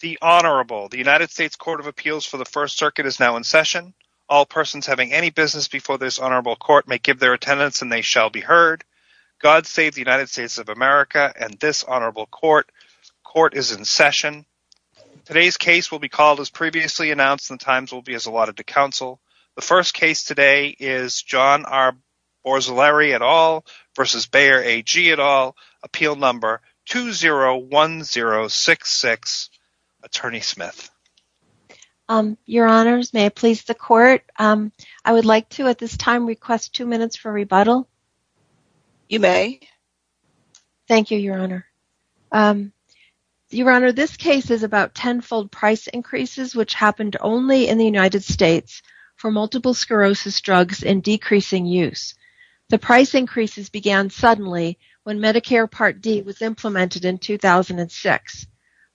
The Honorable, the United States Court of Appeals for the First Circuit is now in session. All persons having any business before this Honorable Court may give their attendance and they shall be heard. God save the United States of America and this Honorable Court. Court is in session. Today's case will be called as previously announced and the times will be as allotted to counsel. The first case today is John R. Borzilleri et al. versus Bayer AG et al. Appeal Number 201066, Attorney Smith. Your Honors, may I please the Court? I would like to at this time request two minutes for rebuttal. You may. Thank you, Your Honor. Your Honor, this case is about tenfold price increases which happened only in the United States for multiple sclerosis drugs in decreasing use. The price increases began suddenly when Medicare Part D was implemented in 2006.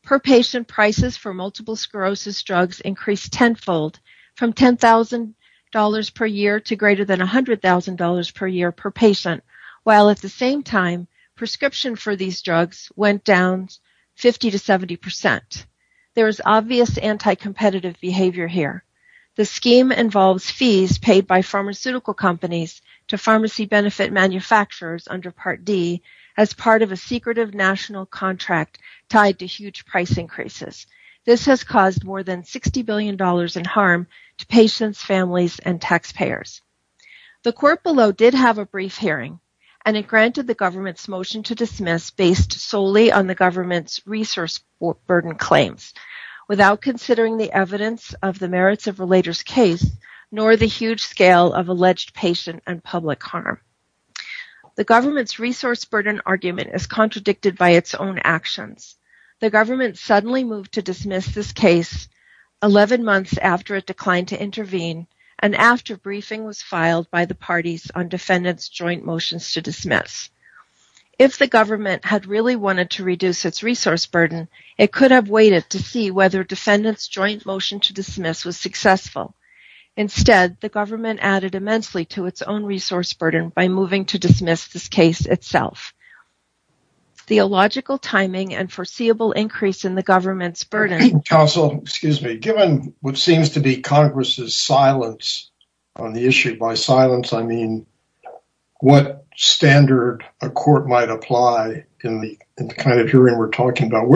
Per patient prices for multiple sclerosis drugs increased tenfold from $10,000 per year to greater than $100,000 per year per patient, while at the same time prescription for these drugs went down 50 to 70%. There is obvious anti-competitive behavior here. The scheme involves fees paid by pharmaceutical companies to pharmacy benefit manufacturers under Part D as part of a secretive national contract tied to huge price increases. This has caused more than $60 billion in harm to patients, families, and taxpayers. The Court below did have a brief hearing and it granted the government's motion to dismiss based solely on the government's resource burden claims without considering the public harm. The government's resource burden argument is contradicted by its own actions. The government suddenly moved to dismiss this case 11 months after it declined to intervene and after briefing was filed by the parties on defendants' joint motions to dismiss. If the government had really wanted to reduce its resource burden, it could have waited to see whether defendants' joint motion to dismiss was successful. Instead, the government added immensely to its own resource burden by moving to dismiss this case itself. Theological timing and foreseeable increase in the government's burden... Counsel, excuse me, given what seems to be Congress's silence on the issue, by silence I mean what standard a court might apply in the kind of hearing we're talking about.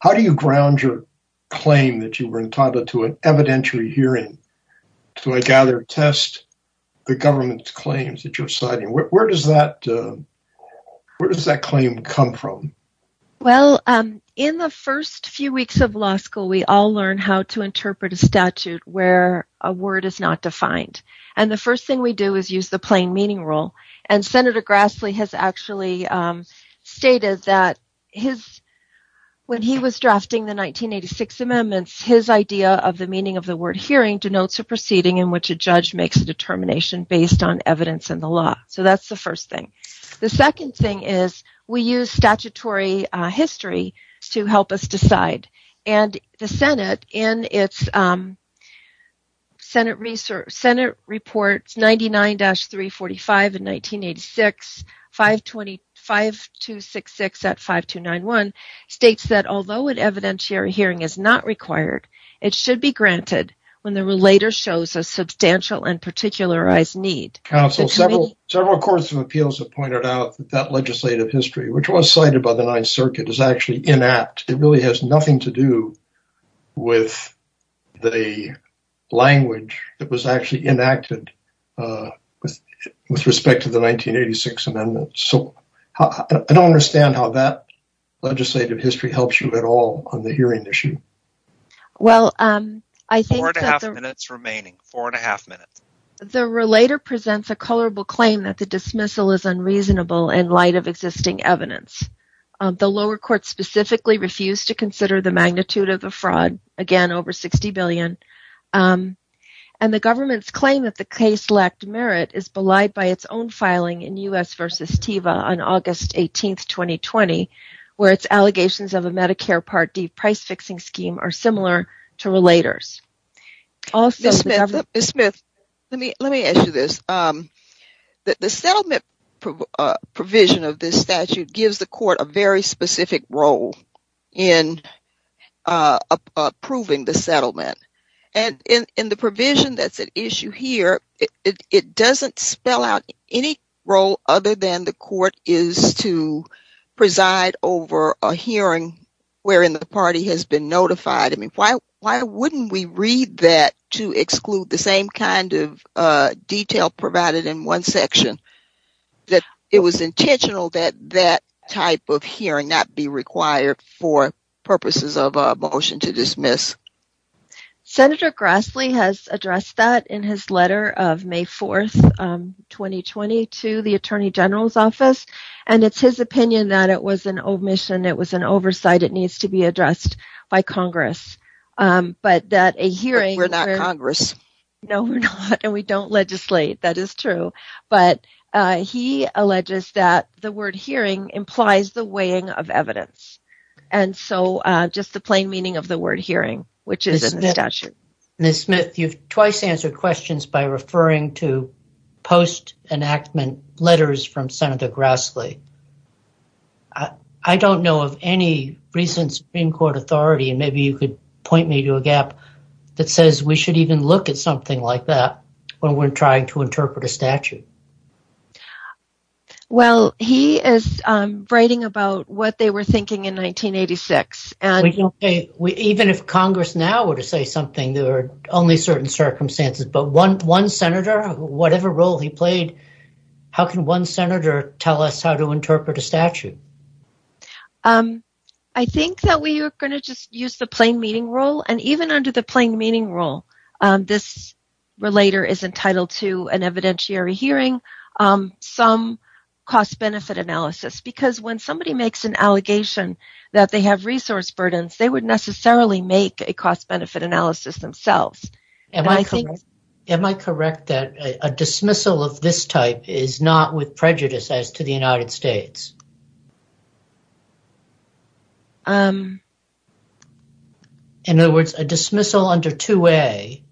How do you ground your claim that you were entitled to an evidentiary hearing to, I gather, test the government's claims that you're citing? Where does that claim come from? Well, in the first few weeks of law school, we all learn how to interpret a statute where a word is not defined. And the first thing we do is use the plain meaning rule. And Senator Grassley has actually stated that when he was drafting the 1986 amendments, his idea of the meaning of the word hearing denotes a proceeding in which a judge makes a determination based on evidence in the law. So that's the first thing. The second thing is we use statutory history to help us decide. And the Senate, in its Senate report 99-345 in 1986, 5266 at 5291, states that although an evidentiary hearing is not required, it should be granted when the relator shows a substantial and particularized need. Counsel, several courts of appeals have pointed out that legislative history, which was cited by the Ninth Circuit, is actually inapt. It really has nothing to do with the language that was actually enacted with respect to the 1986 amendment. So I don't understand how that legislative history helps you at all on the hearing issue. Well, I think... Four and a half minutes remaining, four and a half minutes. The relator presents a colorable claim that the dismissal is unreasonable in light of existing evidence. The lower court specifically refused to consider the magnitude of the fraud, again over $60 billion. And the government's claim that the case lacked merit is belied by its own filing in U.S. v. TEVA on August 18, 2020, where its allegations of a Medicare Part D price-fixing scheme are similar to relator's. Ms. Smith, let me ask you this. The settlement provision of this statute gives the court a very specific role in approving the settlement. And in the provision that's at issue here, it doesn't spell out any role other than the court is to preside over a hearing wherein the party has been notified. I exclude the same kind of detail provided in one section, that it was intentional that that type of hearing not be required for purposes of a motion to dismiss. Senator Grassley has addressed that in his letter of May 4, 2020, to the Attorney General's office. And it's his opinion that it was an omission, it was an oversight, it needs to be addressed by Congress. We're not Congress. No, we're not, and we don't legislate, that is true. But he alleges that the word hearing implies the weighing of evidence. And so, just the plain meaning of the word hearing, which is in the statute. Ms. Smith, you've twice answered questions by referring to post-enactment letters from Senator Grassley. I don't know of any recent Supreme Court authority, and maybe you could point me to a gap that says we should even look at something like that when we're trying to interpret a statute. Well, he is writing about what they were thinking in 1986. Even if Congress now were to say something, there are only certain circumstances. But one senator, whatever role he played, how can one senator tell us how to interpret a statute? I think that we are going to just use the plain meaning role. And even under the plain meaning role, this relator is entitled to an evidentiary hearing, some cost-benefit analysis. Because when somebody makes an allegation that they have resource burdens, they would necessarily make a cost-benefit analysis themselves. Am I correct that a dismissal of this type is not with prejudice as to the United States? In other words, a dismissal under 2A,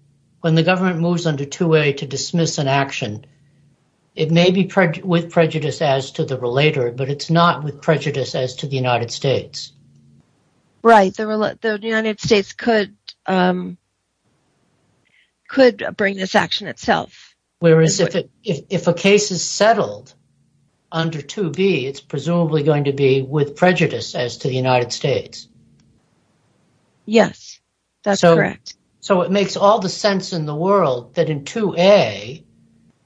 when the government moves under 2A to dismiss an action, it may be with prejudice as to the relator, but it's not with prejudice as to the United States. Right. The United States could bring this action itself. Whereas if a case is settled under 2B, it's presumably going to be with prejudice as to the United States. Yes, that's correct. So it makes all the sense in the world that in 2A,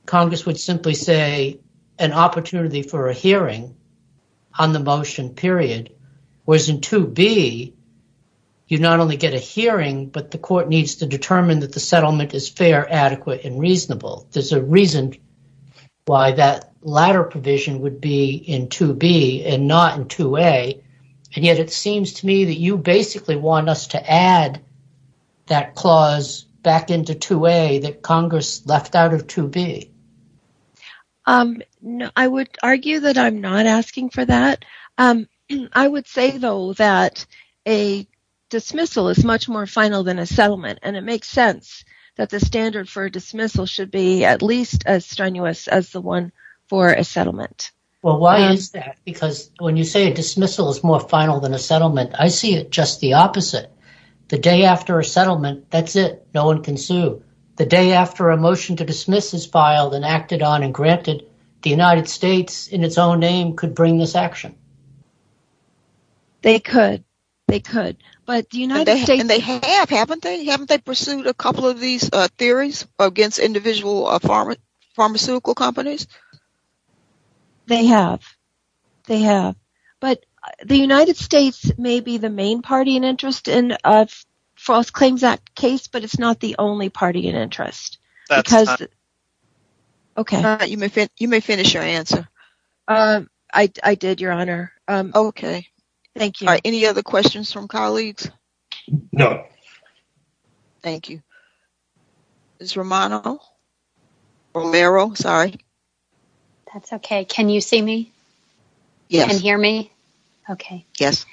Congress would simply say an opportunity for a hearing on the motion, period. Whereas in 2B, you not only get a hearing, but the court needs to determine that the settlement is fair, adequate, and reasonable. There's a reason why that latter provision would be in 2B and not in 2A. And yet it seems to me that you basically want us to add that clause back into 2A that Congress left out of 2B. I would argue that I'm not asking for that. I would say, though, that a dismissal is much more final than a settlement. And it makes sense that the standard for dismissal should be at least as strenuous as the one for a settlement. Well, why is that? Because when you say a dismissal is more final than a settlement, I see it just the opposite. The day after a settlement, that's it. No one can sue. The day after a motion to dismiss is filed and acted on and granted, the United States, in its own name, could bring this action. They could. They could. But the United States... And they have, haven't they? Haven't they pursued a couple of these theories against individual pharmaceutical companies? They have. They have. But the United States may be the main party in interest in False Claims Act case, but it's not the only party in interest. Okay. You may finish your answer. I did, Your Honor. Okay. Thank you. Any other questions from colleagues? No. Thank you. Ms. Romano? Romero? Sorry. That's okay. Can you see me? Yes. Can you hear me? Okay. Yes.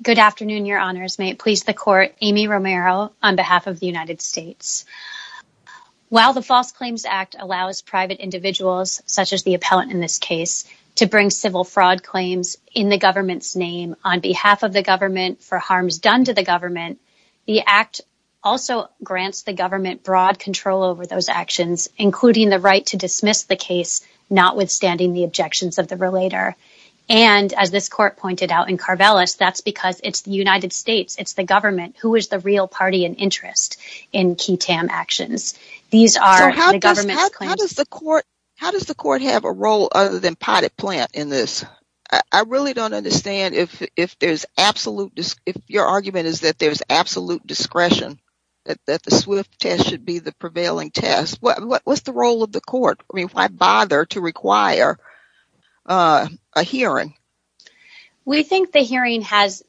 Good afternoon, Your Honors. May it please the Court, Amy Romero, on behalf of the United States. While the False Claims Act allows private individuals, such as the appellant in this case, to bring civil fraud claims in the government's name, on behalf of the government, for harms done to the government, the Act also grants the government broad control over those actions, including the right to dismiss the case, notwithstanding the objections of the relator. And, as this Court pointed out in Carvelis, that's because it's the United States, it's the government, who is the real party in interest in QUTAM actions. How does the Court have a role other than potted plant in this? I really don't understand if your argument is that there's absolute discretion, that the SWIFT test should be the prevailing test. What's the role of the Court? Why bother to require a hearing? We think the hearing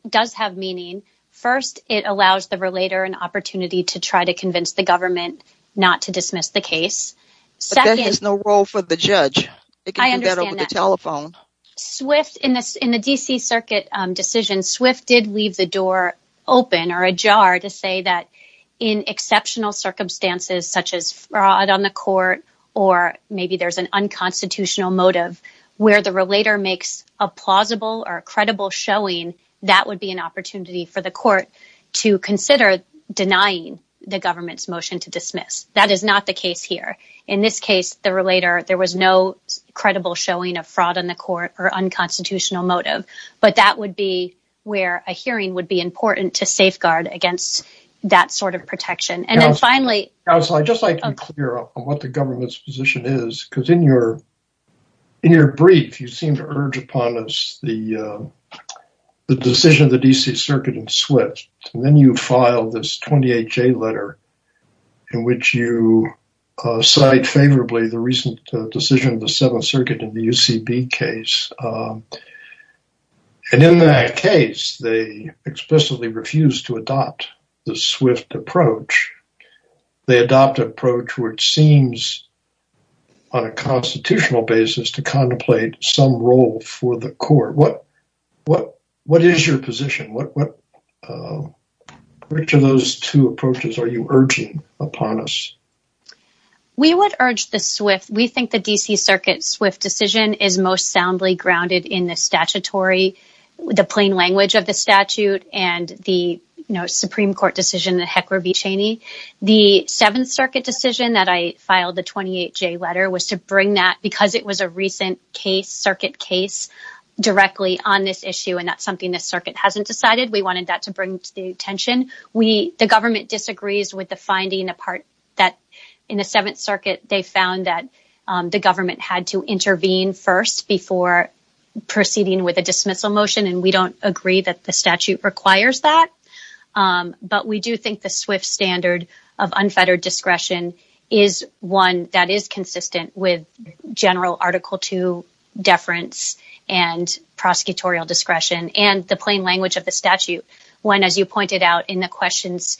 does have meaning. First, it allows the relator an opportunity to try to convince the government not to dismiss the case. But that has no role for the judge. In the D.C. Circuit decision, SWIFT did leave the door open, or ajar, to say that in exceptional circumstances, such as fraud on the Court, or maybe there's an unconstitutional motive, where the relator makes a plausible or credible showing, that would be an opportunity for the Court to consider denying the government's motion to dismiss. That is not the case here. In this case, the relator, there was no credible showing of fraud on the Court or unconstitutional motive. But that would be where a hearing would be important to safeguard against that sort of protection. I'd just like to be clear on what the government's position is, because in your brief, you seem to urge upon the decision of the D.C. Circuit in SWIFT, and then you file this 28-J letter in which you cite favorably the recent decision of the SWIFT approach. They adopt an approach where it seems on a constitutional basis to contemplate some role for the Court. What is your position? Which of those two approaches are you urging upon us? We would urge the SWIFT. We think the D.C. Circuit SWIFT decision is most soundly grounded in the statutory, the plain language of the statute, and the Supreme Court decision that Heckler v. Cheney. The Seventh Circuit decision that I filed the 28-J letter was to bring that because it was a recent case, Circuit case, directly on this issue, and that's something the Circuit hasn't decided. We wanted that to bring to the attention. The government disagrees with the finding that in the Seventh Circuit, they found that the government had to intervene first before proceeding with a dismissal motion, and we don't agree that the statute requires that, but we do think the SWIFT standard of unfettered discretion is one that is consistent with general Article II deference and prosecutorial discretion and the plain language of the statute. When, as you pointed out in the questions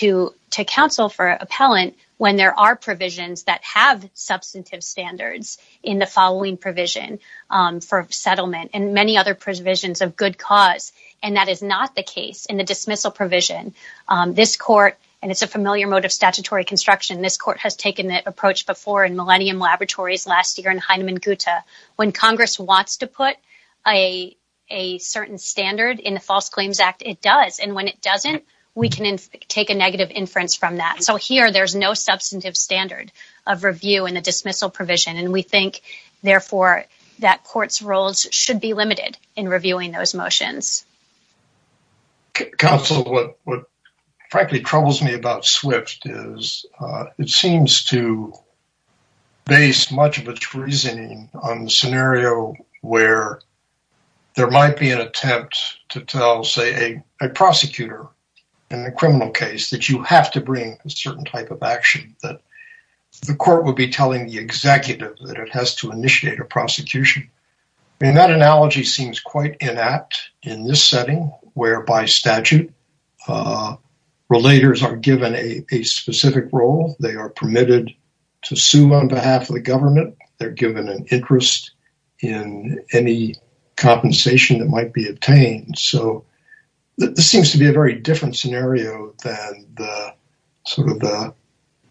to counsel for appellant, when there are provisions that have substantive standards in the following provision for settlement, and many other provisions of good cause, and that is not the case in the dismissal provision, this court, and it's a familiar mode of statutory construction, this court has taken that approach before in Millennium Laboratories last year in Heinemann Guta. When Congress wants to put a certain standard in the False Claims Act, it does, and when it doesn't, we can take a negative inference from that. So here, there's no substantive standard of review in the dismissal provision, and we think therefore that courts' roles should be limited in reviewing those motions. Counsel, what frankly troubles me about SWIFT is it seems to base much of its reasoning on the scenario where there might be an attempt to tell, say, a prosecutor in a criminal case that you have to bring a certain type of action, that the court would be telling the executive that it has to initiate a prosecution. And that analogy seems quite inept in this setting, whereby statute relators are given a specific role, they are permitted to sue on behalf of the government, they're given an interest in any compensation that might be obtained, so this seems to be a very different scenario than the sort of the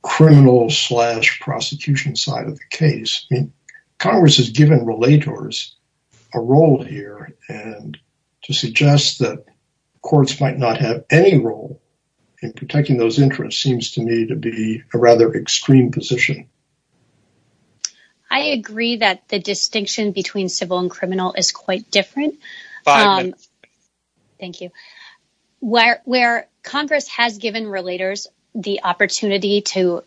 criminal slash prosecution side of the case. I mean, Congress has given relators a role here, and to suggest that courts might not have any role in protecting those interests seems to me to be a rather extreme position. I agree that the distinction between civil and criminal is quite different. Thank you. Where Congress has given relators the opportunity to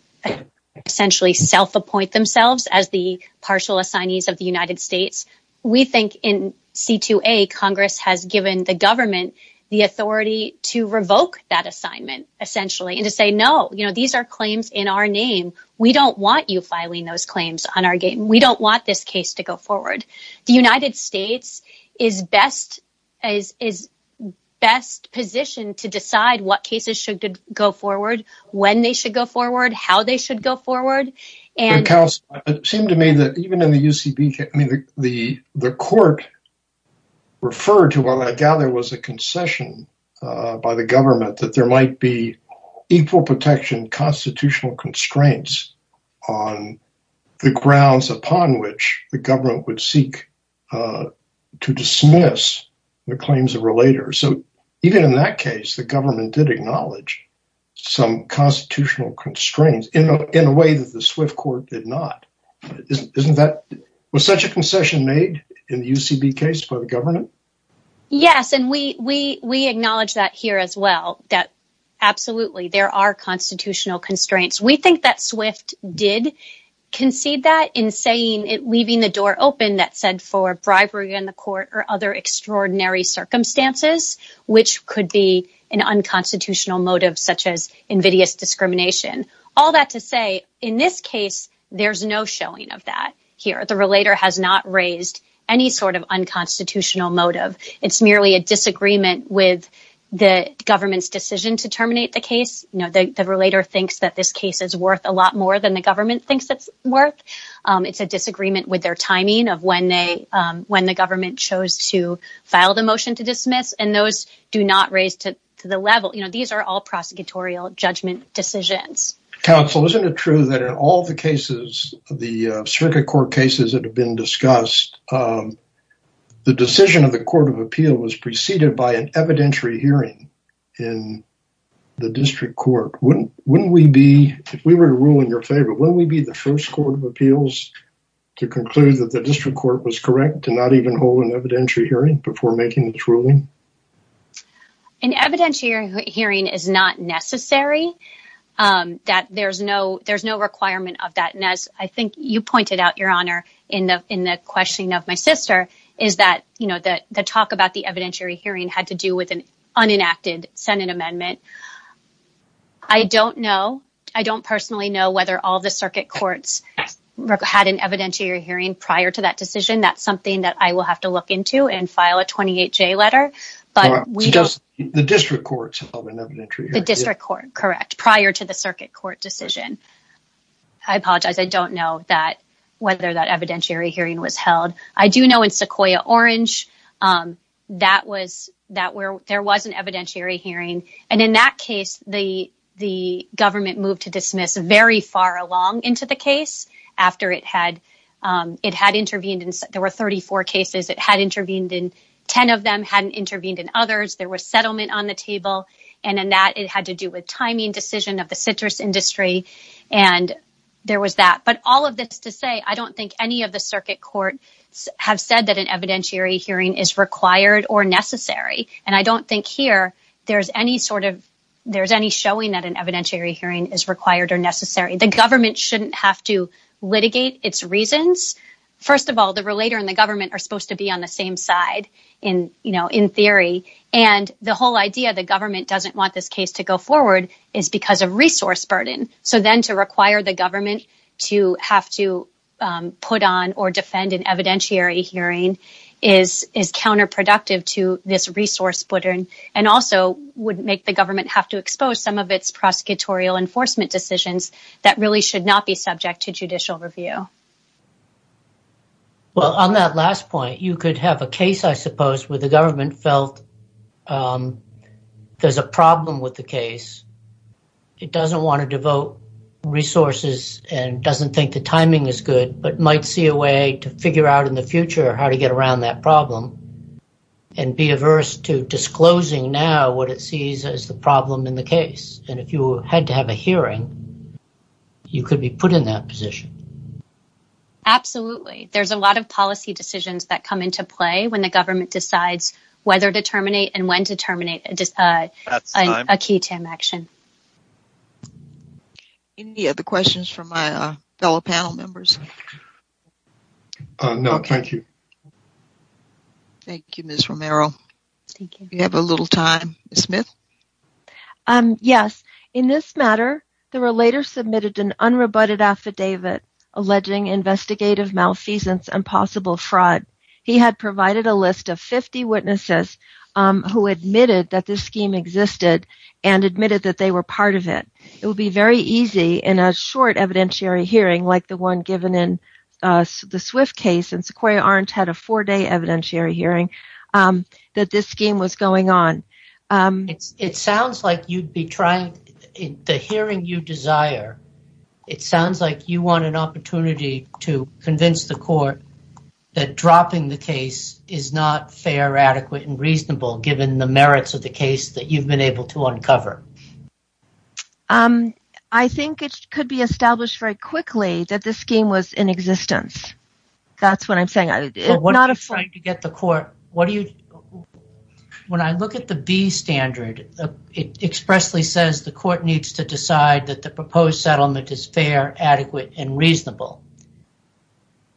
essentially self-appoint themselves as the partial assignees of the United States, we think in C2A Congress has given the government the authority to revoke that assignment, essentially, and to say, no, you know, these are claims in our name. We don't want you filing those claims on our game. We don't want this case to go best position to decide what cases should go forward, when they should go forward, how they should go forward. It seems to me that even in the UCB case, the court referred to what I gather was a concession by the government, that there might be equal protection constitutional constraints on the grounds upon which the government would seek to dismiss the claims of relators. So, even in that case, the government did acknowledge some constitutional constraints in a way that the Swift court did not. Was such a concession made in the UCB case by the government? Yes, and we acknowledge that here as well, that absolutely there are constitutional constraints. We think that Swift did concede that in saying it, leaving the door open that said for bribery in the court or other extraordinary circumstances, which could be an unconstitutional motive, such as invidious discrimination. All that to say, in this case, there's no showing of that here. The relator has not raised any sort of unconstitutional motive. It's merely a disagreement with the government. The relator thinks that this case is worth a lot more than the government thinks it's worth. It's a disagreement with their timing of when the government chose to file the motion to dismiss, and those do not raise to the level. These are all prosecutorial judgment decisions. Counsel, isn't it true that in all the cases, the circuit court cases that have been discussed, the decision of the court of appeal was preceded by an evidentiary hearing in the district court? If we were to rule in your favor, wouldn't we be the first court of appeals to conclude that the district court was correct to not even hold an evidentiary hearing before making its ruling? An evidentiary hearing is not necessary. There's no requirement of that, and as I think you pointed out, Your Honor, in the questioning of my sister, is that the talk about the evidentiary hearing had to do with an unenacted Senate amendment. I don't know. I don't personally know whether all the circuit courts had an evidentiary hearing prior to that decision. That's something that I will have to look into and file a 28-J letter. The district courts held an evidentiary hearing. The district court, correct, prior to the circuit court decision. I apologize. I don't know whether that evidentiary hearing was held. I do know in Sequoia Orange, there was an evidentiary hearing, and in that case, the government moved to dismiss very far along into the case after it had intervened. There were 34 cases. It had intervened in 10 of them, hadn't intervened in others. There was settlement on the table, and in that, it had to do with timing decision of the citrus industry, and there was that. But all of this to say, I don't think any of the circuit courts have said that an evidentiary hearing is required or necessary, and I don't think here, there's any showing that an evidentiary hearing is required or necessary. The government shouldn't have to litigate its reasons. First of all, the relator and the government are supposed to be on the same side in theory, and the whole idea the government doesn't want this case to go forward is because of resource burden. So then to require the government to have to put on or defend an evidentiary hearing is counterproductive to this resource burden and also would make the government have to expose some of its prosecutorial enforcement decisions that really should not be subject to judicial review. Well, on that last point, you could have a case, I suppose, where the government felt there's a problem with the case. It doesn't want to devote resources and doesn't think the timing is good, but might see a way to figure out in the future how to get around that problem and be averse to disclosing now what it sees as the problem in the case. And if you had to have a hearing, you could be put in that position. Absolutely. There's a lot of policy decisions that come into play when the government decides whether to terminate and when to terminate a key TAM action. Any other questions from my fellow panel members? No, thank you. Thank you, Ms. Romero. You have a little time. Ms. Smith? Yes. In this matter, the relator submitted an unrebutted affidavit alleging investigative malfeasance and possible fraud. He had provided a list of 50 witnesses who admitted that this scheme existed and admitted that they were part of it. It would be very easy in a short evidentiary hearing like the one given in the Swift case, and Sequoia Orange had a four-day evidentiary hearing that this scheme was going on. It sounds like you'd be to convince the court that dropping the case is not fair, adequate, and reasonable, given the merits of the case that you've been able to uncover. I think it could be established very quickly that this scheme was in existence. That's what I'm saying. When I look at the B standard, it expressly says the court needs to decide that the proposed dismissal is fair, adequate, and reasonable.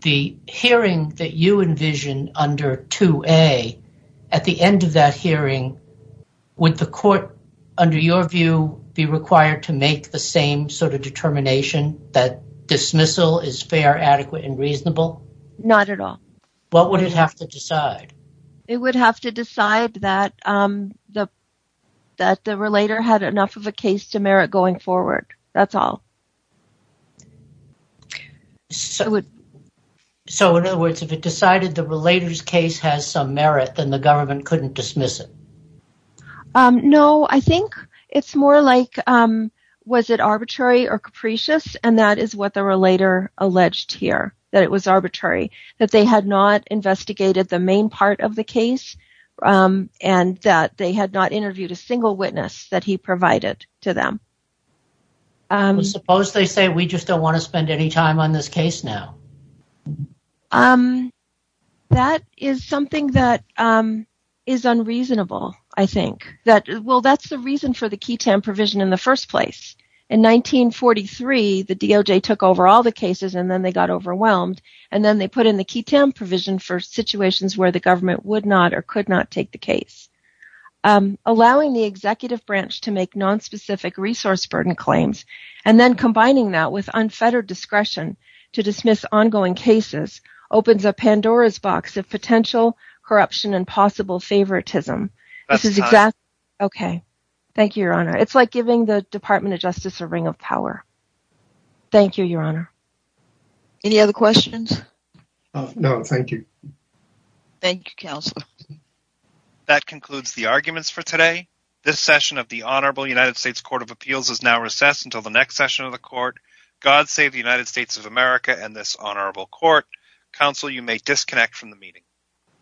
The hearing that you envision under 2A, at the end of that hearing, would the court, under your view, be required to make the same sort of determination that dismissal is fair, adequate, and reasonable? Not at all. What would it have to decide? It would have to decide that the relator had enough of a case to merit going forward. That's all. So, in other words, if it decided the relator's case has some merit, then the government couldn't dismiss it? No, I think it's more like, was it arbitrary or capricious? And that is what the relator alleged here, that it was arbitrary, that they had not investigated the main part of the case, and that they had not interviewed a single witness that he provided to them. Suppose they say, we just don't want to spend any time on this case now. That is something that is unreasonable, I think. Well, that's the reason for the Keaton provision in the first place. In 1943, the DOJ took over all the cases, and then they got overwhelmed, and then they put in the Keaton provision for situations where the government would not or could not take the case. Allowing the executive branch to make nonspecific resource burden claims, and then combining that with unfettered discretion to dismiss ongoing cases, opens a Pandora's box of potential corruption and possible favoritism. Okay, thank you, Your Honor. It's like giving the Department of Justice a ring of power. Thank you, Your Honor. Any other questions? No, thank you. Thank you, Counselor. That concludes the arguments for today. This session of the Honorable United States Court of Appeals is now recessed until the next session of the Court. God save the United States of America and this Honorable Court. Counsel, you may disconnect from the meeting.